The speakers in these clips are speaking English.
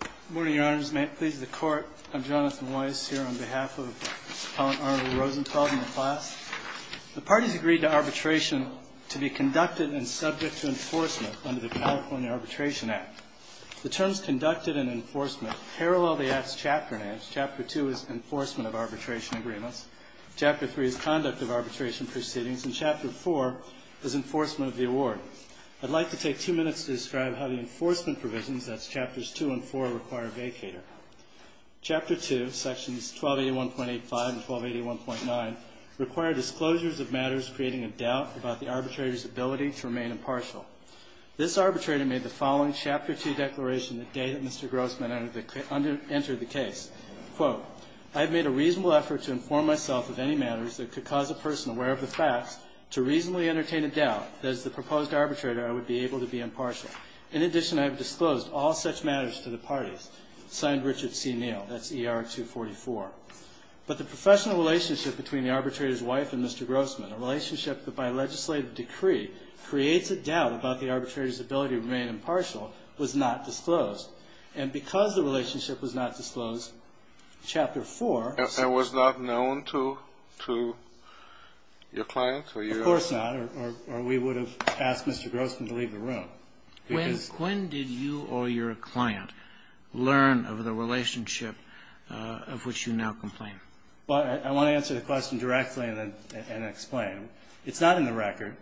Good morning, Your Honors. May it please the Court, I'm Jonathan Weiss here on behalf of Appellant Arnold Rosenfeld and the class. The parties agreed to arbitration to be conducted and subject to enforcement under the California Arbitration Act. The terms conducted and enforcement parallel the Act's chapter names. Chapter 2 is Enforcement of Arbitration Agreements. Chapter 3 is Conduct of Arbitration Proceedings. And Chapter 4 is Enforcement of the Award. I'd like to take two minutes to describe how the enforcement provisions, that's chapters 2 and 4, require a vacater. Chapter 2, sections 1281.85 and 1281.9, require disclosures of matters creating a doubt about the arbitrator's ability to remain impartial. This arbitrator made the following Chapter 2 declaration the day that Mr. Grossman entered the case. Quote, I've made a reasonable effort to inform myself of any matters that could cause a person aware of the facts to reasonably entertain a doubt that as the proposed arbitrator I would be able to be impartial. In addition, I have disclosed all such matters to the parties. Signed, Richard C. Neal. That's ER 244. But the professional relationship between the arbitrator's wife and Mr. Grossman, a relationship that by legislative decree creates a doubt about the arbitrator's ability to remain impartial, was not disclosed. And because the relationship was not disclosed, Chapter 4... It was not known to your client? Of course not. Or we would have asked Mr. Grossman to leave the room. When did you or your client learn of the relationship of which you now complain? I want to answer the question directly and then explain. It's not in the record.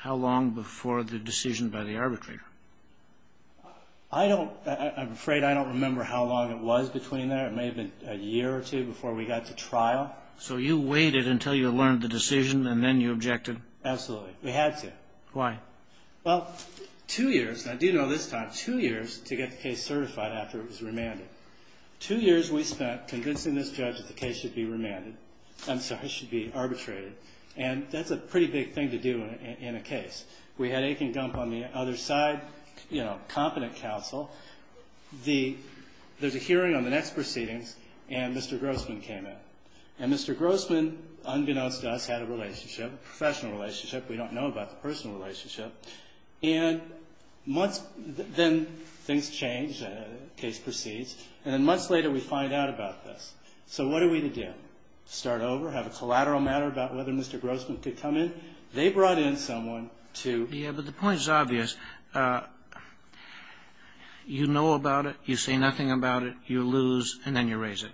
How long before the decision by the arbitrator? I don't... I'm afraid I don't remember how long it was between there. It may have been a year or two before we got to trial. So you waited until you learned the decision and then you objected? Absolutely. We had to. Why? Well, two years... I do know this time. Two years to get the case certified after it was remanded. Two years we spent convincing this judge that the case should be remanded. I'm sorry, should be arbitrated. And that's a pretty big thing to do in a case. We had Akin Gump on the other side, you know, competent counsel. There's a hearing on the next proceedings and Mr. Grossman came in. And Mr. Grossman, unbeknownst to us, had a relationship, professional relationship. We don't know about the personal relationship. And months... Then things changed, the case proceeds. And then months later we find out about this. So what are we to do? Start over? Have a collateral matter about whether Mr. Grossman could come in? They brought in someone to... Yeah, but the point is obvious. You know about it, you say nothing about it, you lose, and then you raise it.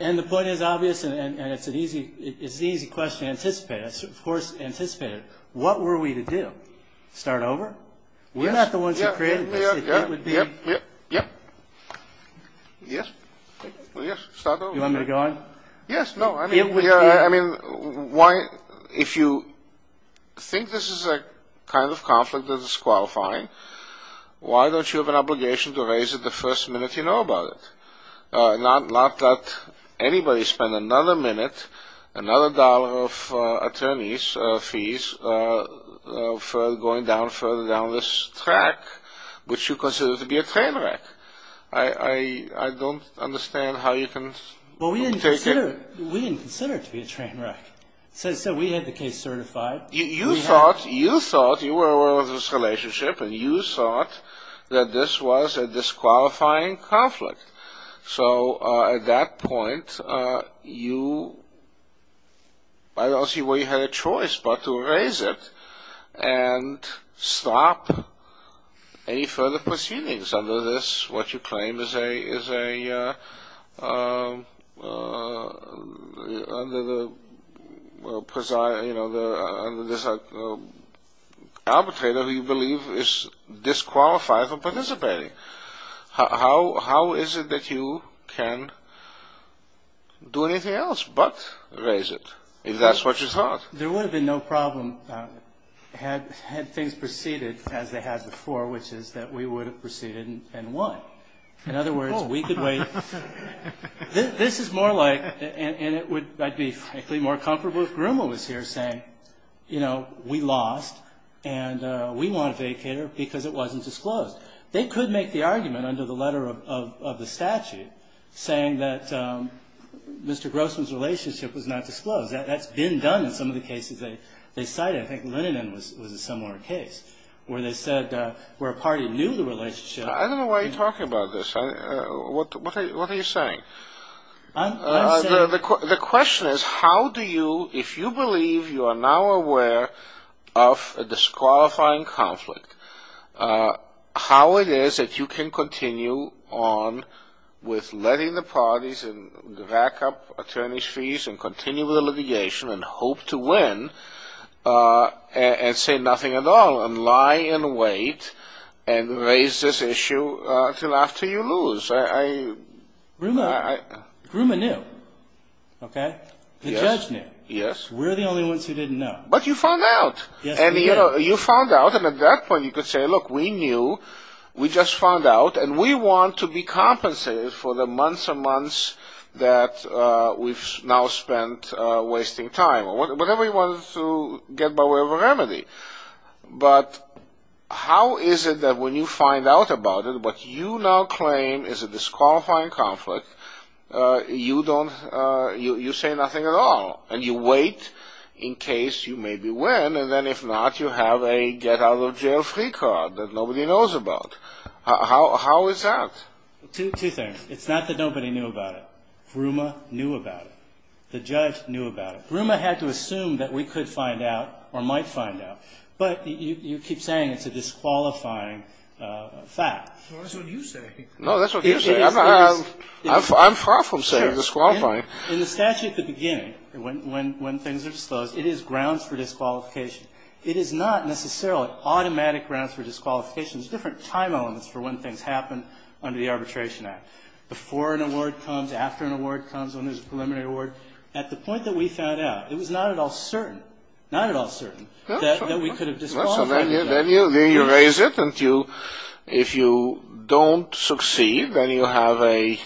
And the point is obvious and it's an easy question to anticipate. Of course, anticipate it. What were we to do? Start over? We're not the ones who created this. Yep, yep, yep, yep, yep. Yes, yes, start over. You want me to go on? Yes, no, I mean, why... If you think this is a kind of conflict that is qualifying, why don't you have an obligation to raise it the first minute you know about it? Not that anybody spent another minute, another dollar of attorney's fees, going down further down this track, which you consider to be a train wreck. I don't understand how you can... Well, we didn't consider it to be a train wreck. So we had the case certified. You thought, you were aware of this relationship, and you thought that this was a disqualifying conflict. So at that point, you... I don't see where you had a choice but to raise it and stop any further proceedings under this, what you claim is a... under this arbitrator who you believe is disqualified from participating. How is it that you can do anything else but raise it, if that's what you thought? There would have been no problem had things proceeded as they had before, which is that we would have proceeded and won. In other words, we could wait... This is more like, and I'd be frankly more comfortable if Grummel was here saying, you know, we lost, and we want a vacater because it wasn't disclosed. They could make the argument under the letter of the statute, saying that Mr. Grossman's relationship was not disclosed. That's been done in some of the cases they cited. I think Leninan was a similar case, where they said where a party knew the relationship... I don't know why you're talking about this. What are you saying? The question is, how do you, if you believe you are now aware of a disqualifying conflict, how it is that you can continue on with letting the parties rack up attorney's fees and continue with the litigation and hope to win and say nothing at all and lie and wait and raise this issue until after you lose? Grummel knew. The judge knew. We're the only ones who didn't know. But you found out. Yes, we did. You found out, and at that point you could say, look, we knew. We just found out, and we want to be compensated for the months and months that we've now spent wasting time, or whatever you wanted to get by way of a remedy. But how is it that when you find out about it, but you now claim it's a disqualifying conflict, you say nothing at all, and you wait in case you maybe win, and then if not, you have a get-out-of-jail-free card that nobody knows about. How is that? Two things. It's not that nobody knew about it. Grummel knew about it. The judge knew about it. Grummel had to assume that we could find out or might find out. But you keep saying it's a disqualifying fact. Well, that's what you say. No, that's what you say. I'm far from saying it's disqualifying. In the statute at the beginning, when things are disclosed, it is grounds for disqualification. It is not necessarily automatic grounds for disqualification. It's different time elements for when things happen under the Arbitration Act. Before an award comes, after an award comes, when there's a preliminary award. At the point that we found out, it was not at all certain, not at all certain, that we could have disqualified. Then you raise it. If you don't succeed, then you have an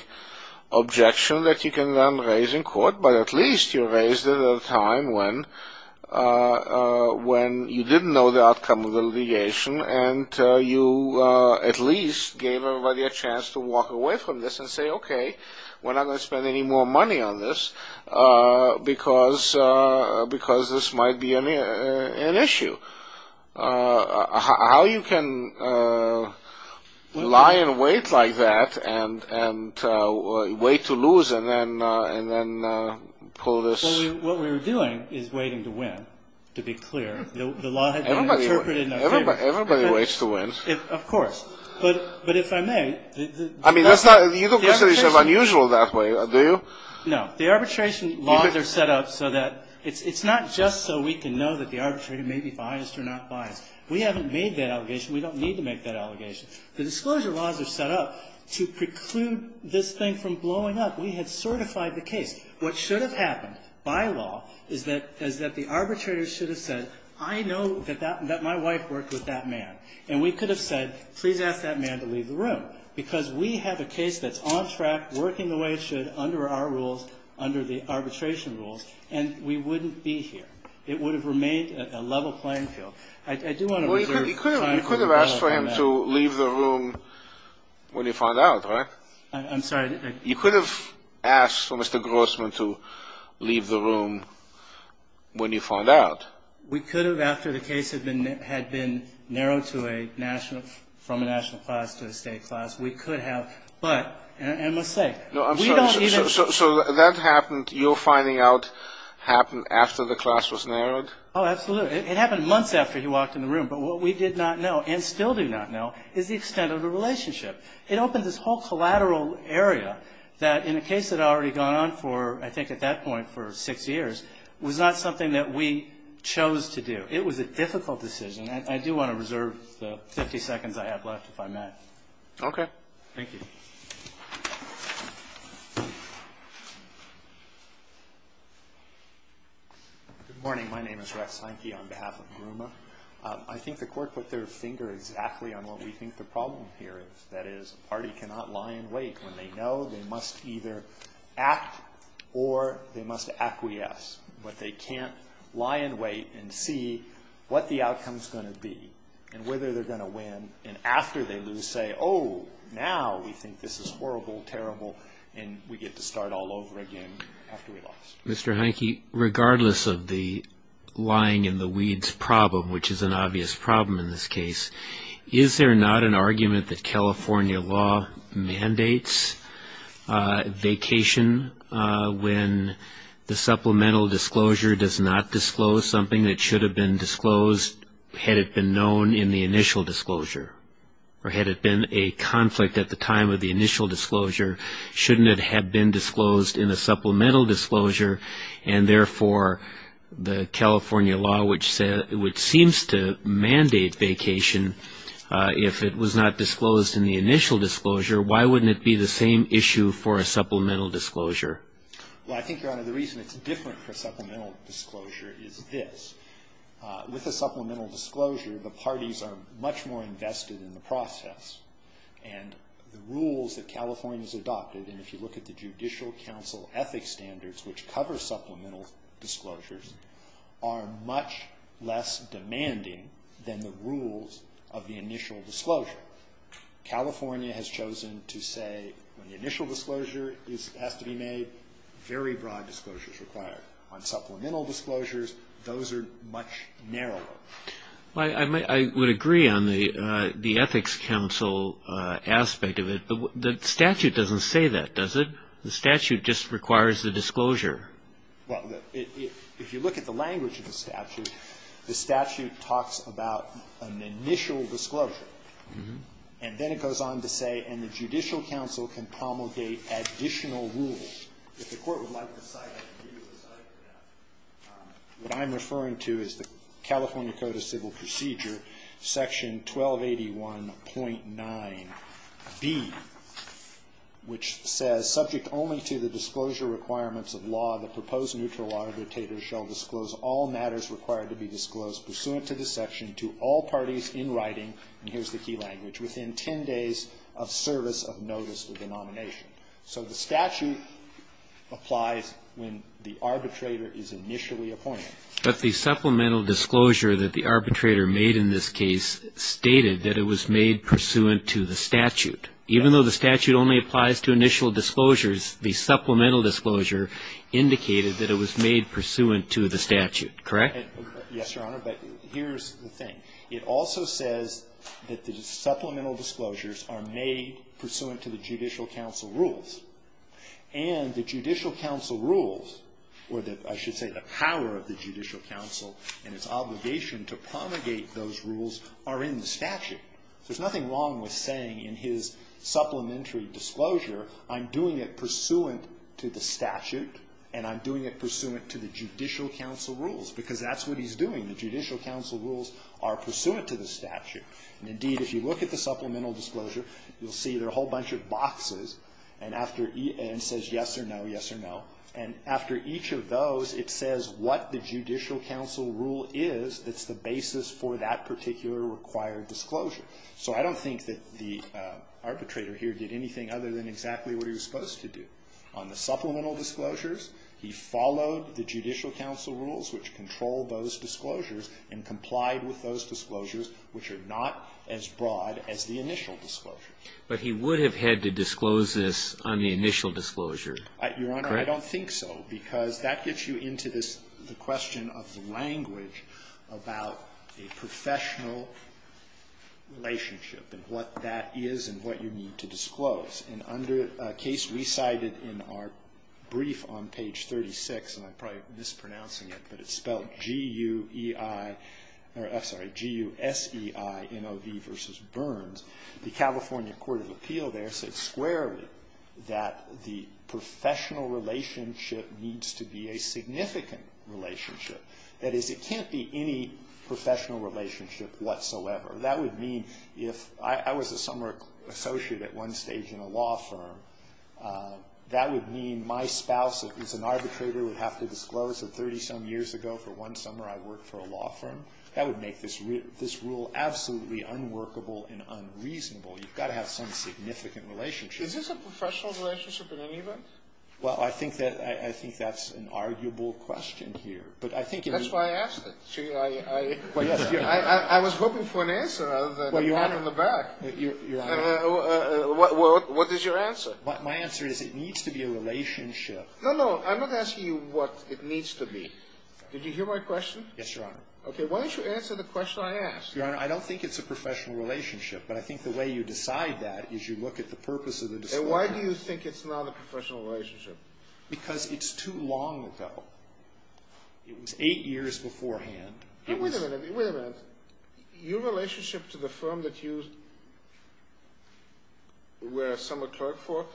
objection that you can then raise in court, but at least you raised it at a time when you didn't know the outcome of the litigation and you at least gave everybody a chance to walk away from this and say, okay, we're not going to spend any more money on this because this might be an issue. How you can lie in wait like that and wait to lose and then pull this... What we were doing is waiting to win, to be clear. The law had been interpreted... Everybody waits to win. Of course. But if I may... The universities are unusual that way, do you? No. The arbitration laws are set up so that it's not just so we can know that the arbitrator may be biased or not biased. We haven't made that allegation. We don't need to make that allegation. The disclosure laws are set up to preclude this thing from blowing up. We had certified the case. What should have happened by law is that the arbitrator should have said, I know that my wife worked with that man, and we could have said, please ask that man to leave the room because we have a case that's on track, working the way it should under our rules, under the arbitration rules, and we wouldn't be here. It would have remained a level playing field. I do want to reserve time for... Well, you could have asked for him to leave the room when you found out, right? I'm sorry. You could have asked for Mr. Grossman to leave the room when you found out. We could have, after the case had been narrowed from a national class to a state class. We could have. But I must say... So that happened, your finding out, happened after the class was narrowed? Oh, absolutely. It happened months after he walked in the room. But what we did not know, and still do not know, is the extent of the relationship. It opened this whole collateral area that in a case that had already gone on for, I think at that point, for six years, was not something that we chose to do. It was a difficult decision. I do want to reserve the 50 seconds I have left if I may. Okay. Thank you. Good morning. My name is Rex Seinke on behalf of GRUMA. I think the Court put their finger exactly on what we think the problem here is. That is, a party cannot lie in wait when they know they must either act or they must acquiesce. But they can't lie in wait and see what the outcome is going to be and whether they're going to win. And after they lose, say, oh, now we think this is horrible, terrible, and we get to start all over again after we lost. Mr. Heineke, regardless of the lying in the weeds problem, which is an obvious problem in this case, is there not an argument that California law mandates vacation when the supplemental disclosure does not disclose something that should have been disclosed had it been known in the initial disclosure? Or had it been a conflict at the time of the initial disclosure, shouldn't it have been disclosed in a supplemental disclosure, and therefore the California law, which seems to mandate vacation, if it was not disclosed in the initial disclosure, why wouldn't it be the same issue for a supplemental disclosure? Well, I think, Your Honor, the reason it's different for supplemental disclosure is this. With a supplemental disclosure, the parties are much more invested in the process. And the rules that California has adopted, and if you look at the Judicial Council ethics standards, which cover supplemental disclosures, are much less demanding than the rules of the initial disclosure. California has chosen to say when the initial disclosure has to be made, very broad disclosure is required. On supplemental disclosures, those are much narrower. Well, I would agree on the Ethics Council aspect of it, but the statute doesn't say that, does it? The statute just requires the disclosure. Well, if you look at the language of the statute, the statute talks about an initial disclosure. And then it goes on to say, and the Judicial Council can promulgate additional rules. What I'm referring to is the California Code of Civil Procedure, Section 1281.9b, which says, subject only to the disclosure requirements of law, the proposed neutral arbitrators shall disclose all matters required to be disclosed pursuant to the section to all parties in writing, and here's the key language, within 10 days of service of notice of the nomination. So the statute applies when the arbitrator is initially appointed. But the supplemental disclosure that the arbitrator made in this case stated that it was made pursuant to the statute. Even though the statute only applies to initial disclosures, the supplemental disclosure indicated that it was made pursuant to the statute, correct? Yes, Your Honor, but here's the thing. It also says that the supplemental disclosures are made pursuant to the Judicial Council rules. And the Judicial Council rules, or I should say the power of the Judicial Council and its obligation to promulgate those rules are in the statute. There's nothing wrong with saying in his supplementary disclosure, I'm doing it pursuant to the statute and I'm doing it pursuant to the Judicial Council rules, because that's what he's doing. The Judicial Council rules are pursuant to the statute. And indeed, if you look at the supplemental disclosure, you'll see there are a whole bunch of boxes, and it says yes or no, yes or no, and after each of those, it says what the Judicial Council rule is that's the basis for that particular required disclosure. So I don't think that the arbitrator here did anything other than exactly what he was supposed to do. On the supplemental disclosures, he followed the Judicial Council rules which control those disclosures and complied with those disclosures which are not as broad as the initial disclosure. But he would have had to disclose this on the initial disclosure, correct? Your Honor, I don't think so, because that gets you into this, the question of the language about a professional relationship and what that is and what you need to disclose. A case we cited in our brief on page 36, and I'm probably mispronouncing it, but it's spelled G-U-S-E-I-N-O-V versus Burns. The California Court of Appeal there said squarely that the professional relationship needs to be a significant relationship. That is, it can't be any professional relationship whatsoever. That would mean if I was a summer associate at one stage in a law firm, that would mean my spouse as an arbitrator would have to disclose that 30-some years ago for one summer I worked for a law firm. That would make this rule absolutely unworkable and unreasonable. You've got to have some significant relationship. Is this a professional relationship in any event? Well, I think that's an arguable question here. That's why I asked it. I was hoping for an answer rather than a pat on the back. What is your answer? My answer is it needs to be a relationship. No, no, I'm not asking you what it needs to be. Did you hear my question? Yes, Your Honor. Okay, why don't you answer the question I asked? Your Honor, I don't think it's a professional relationship, but I think the way you decide that is you look at the purpose of the disclosure. And why do you think it's not a professional relationship? Because it's too long ago. It was eight years beforehand. Wait a minute, wait a minute. Your relationship to the firm that you were a summer clerk for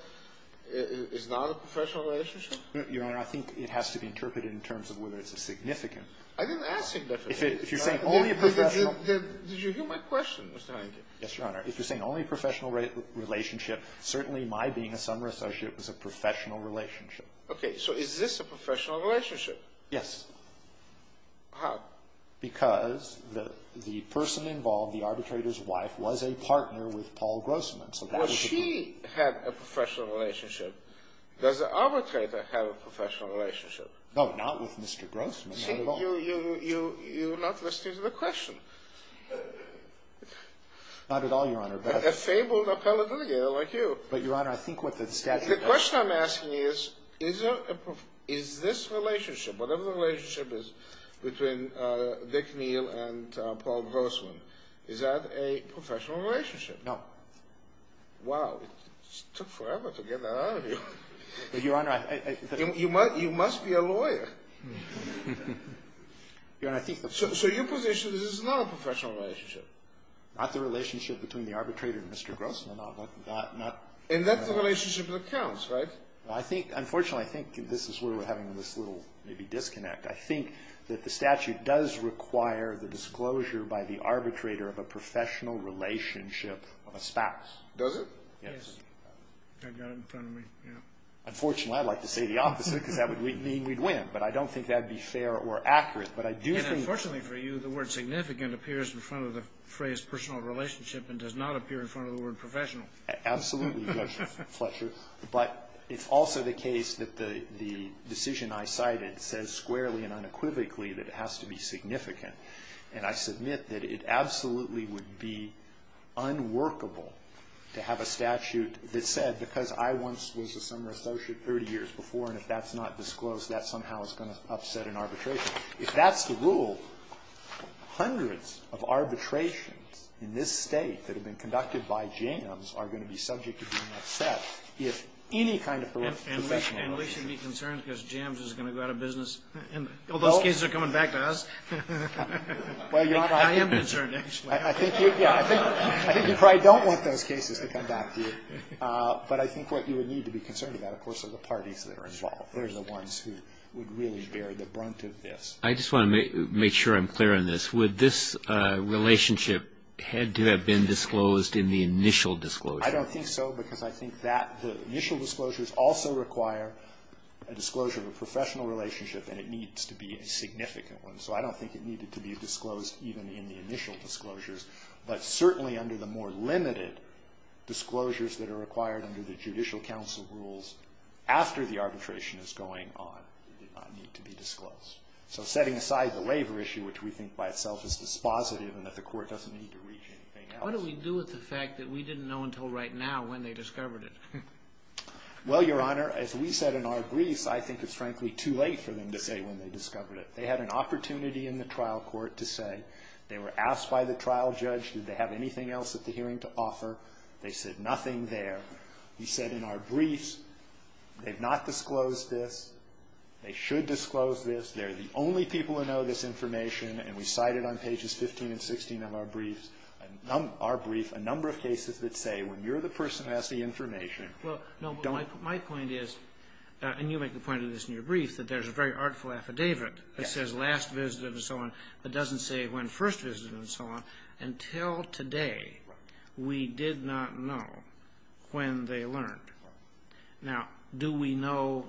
is not a professional relationship? Your Honor, I think it has to be interpreted in terms of whether it's a significant. I didn't ask significant. If you're saying only a professional. Did you hear my question, Mr. Heineken? Yes, Your Honor. If you're saying only a professional relationship, certainly my being a summer associate was a professional relationship. Okay, so is this a professional relationship? Yes. How? Because the person involved, the arbitrator's wife, was a partner with Paul Grossman. Well, she had a professional relationship. Does the arbitrator have a professional relationship? No, not with Mr. Grossman. You're not listening to the question. Not at all, Your Honor. A fabled appellate litigator like you. But, Your Honor, I think what the statute does. The question I'm asking is, is this relationship, whatever the relationship is between Dick Neal and Paul Grossman, is that a professional relationship? No. Wow. It took forever to get that out of you. But, Your Honor, I... You must be a lawyer. Your Honor, I think... So your position is it's not a professional relationship? Not the relationship between the arbitrator and Mr. Grossman, no. And that's the relationship that counts, right? Unfortunately, I think this is where we're having this little maybe disconnect. I think that the statute does require the disclosure by the arbitrator of a professional relationship of a spouse. Does it? Yes. I've got it in front of me. Unfortunately, I'd like to say the opposite because that would mean we'd win. But I don't think that would be fair or accurate. But I do think... Unfortunately for you, the word significant appears in front of the phrase personal relationship and does not appear in front of the word professional. Absolutely, Judge Fletcher. But it's also the case that the decision I cited says squarely and unequivocally that it has to be significant. And I submit that it absolutely would be unworkable to have a statute that said, because I once was a summer associate 30 years before, and if that's not disclosed, that somehow is going to upset an arbitration. If that's the rule, hundreds of arbitrations in this state that have been conducted by jams are going to be subject to being upset if any kind of professional relationship. And we should be concerned because jams is going to go out of business. All those cases are coming back to us. I am concerned, actually. I think you probably don't want those cases to come back to you. But I think what you would need to be concerned about, of course, are the parties that are involved. They're the ones who would really bear the brunt of this. I just want to make sure I'm clear on this. Would this relationship had to have been disclosed in the initial disclosure? I don't think so because I think that the initial disclosures also require a disclosure of a professional relationship, and it needs to be a significant one. So I don't think it needed to be disclosed even in the initial disclosures. But certainly under the more limited disclosures that are required under the Judicial Council rules after the arbitration is going on, it did not need to be disclosed. So setting aside the labor issue, which we think by itself is dispositive and that the Court doesn't need to reach anything else. What do we do with the fact that we didn't know until right now when they discovered it? Well, Your Honor, as we said in our briefs, I think it's frankly too late for them to say when they discovered it. They had an opportunity in the trial court to say. They were asked by the trial judge did they have anything else at the hearing to offer. They said nothing there. He said in our briefs they've not disclosed this. They should disclose this. They're the only people who know this information, and we cited on pages 15 and 16 of our briefs, our brief, a number of cases that say when you're the person who has the information, don't. Well, no, but my point is, and you make the point of this in your brief, that there's a very artful affidavit that says last visited and so on that doesn't say when first visited and so on. Until today, we did not know when they learned. Now, do we know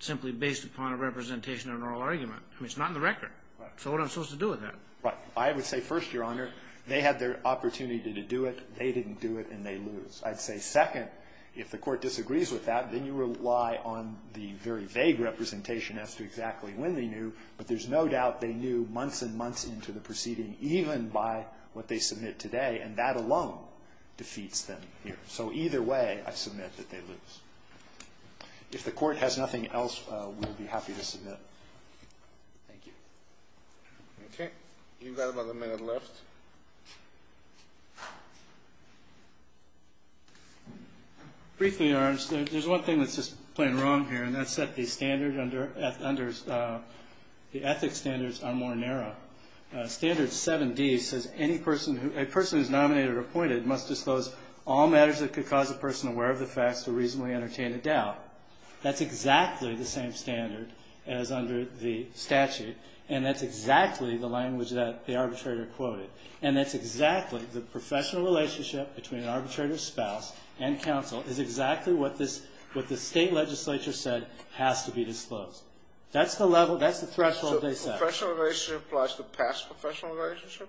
simply based upon a representation or an oral argument? I mean, it's not in the record. So what am I supposed to do with that? Right. I would say first, Your Honor, they had their opportunity to do it. They didn't do it, and they lose. I'd say second, if the Court disagrees with that, then you rely on the very vague representation as to exactly when they knew, but there's no doubt they knew months and months into the proceeding, even by what they submit today, and that alone defeats them here. So either way, I submit that they lose. If the Court has nothing else, we'll be happy to submit. Thank you. Okay. You've got about a minute left. Briefly, Your Honor, there's one thing that's just plain wrong here, and that's that the ethics standards are more narrow. Standard 7D says a person who is nominated or appointed must disclose all matters that could cause a person aware of the facts to reasonably entertain a doubt. That's exactly the same standard as under the statute, and that's exactly the language that the arbitrator quoted, is exactly what the state legislature said has to be disclosed. That's the threshold they set. Professional relationship applies to past professional relationship?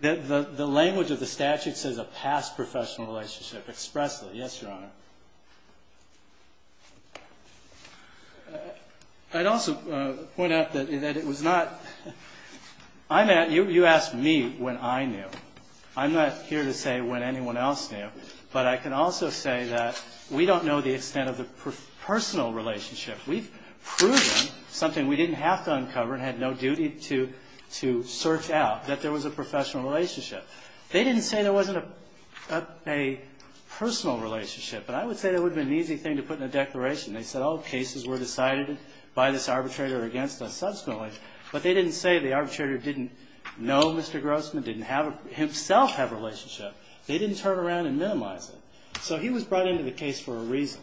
The language of the statute says a past professional relationship expressly. Yes, Your Honor. I'd also point out that it was not – you asked me when I knew. I'm not here to say when anyone else knew, but I can also say that we don't know the extent of the personal relationship. We've proven something we didn't have to uncover and had no duty to search out, that there was a professional relationship. They didn't say there wasn't a personal relationship, but I would say that would have been an easy thing to put in a declaration. They said all cases were decided by this arbitrator against us subsequently, but they didn't say the arbitrator didn't know Mr. Grossman, didn't himself have a relationship. They didn't turn around and minimize it. So he was brought into the case for a reason,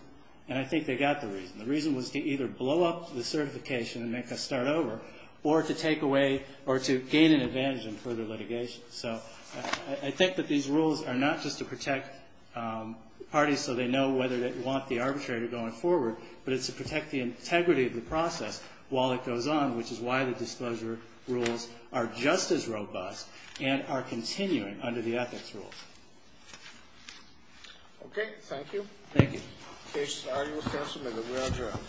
and I think they got the reason. The reason was to either blow up the certification and make us start over, or to take away – or to gain an advantage in further litigation. So I think that these rules are not just to protect parties so they know whether they want the arbitrator going forward, but it's to protect the integrity of the process while it goes on, which is why the disclosure rules are just as robust and are continuing under the ethics rules. Okay, thank you. Thank you. Case, argument, and amendment. We are adjourned. Thank you.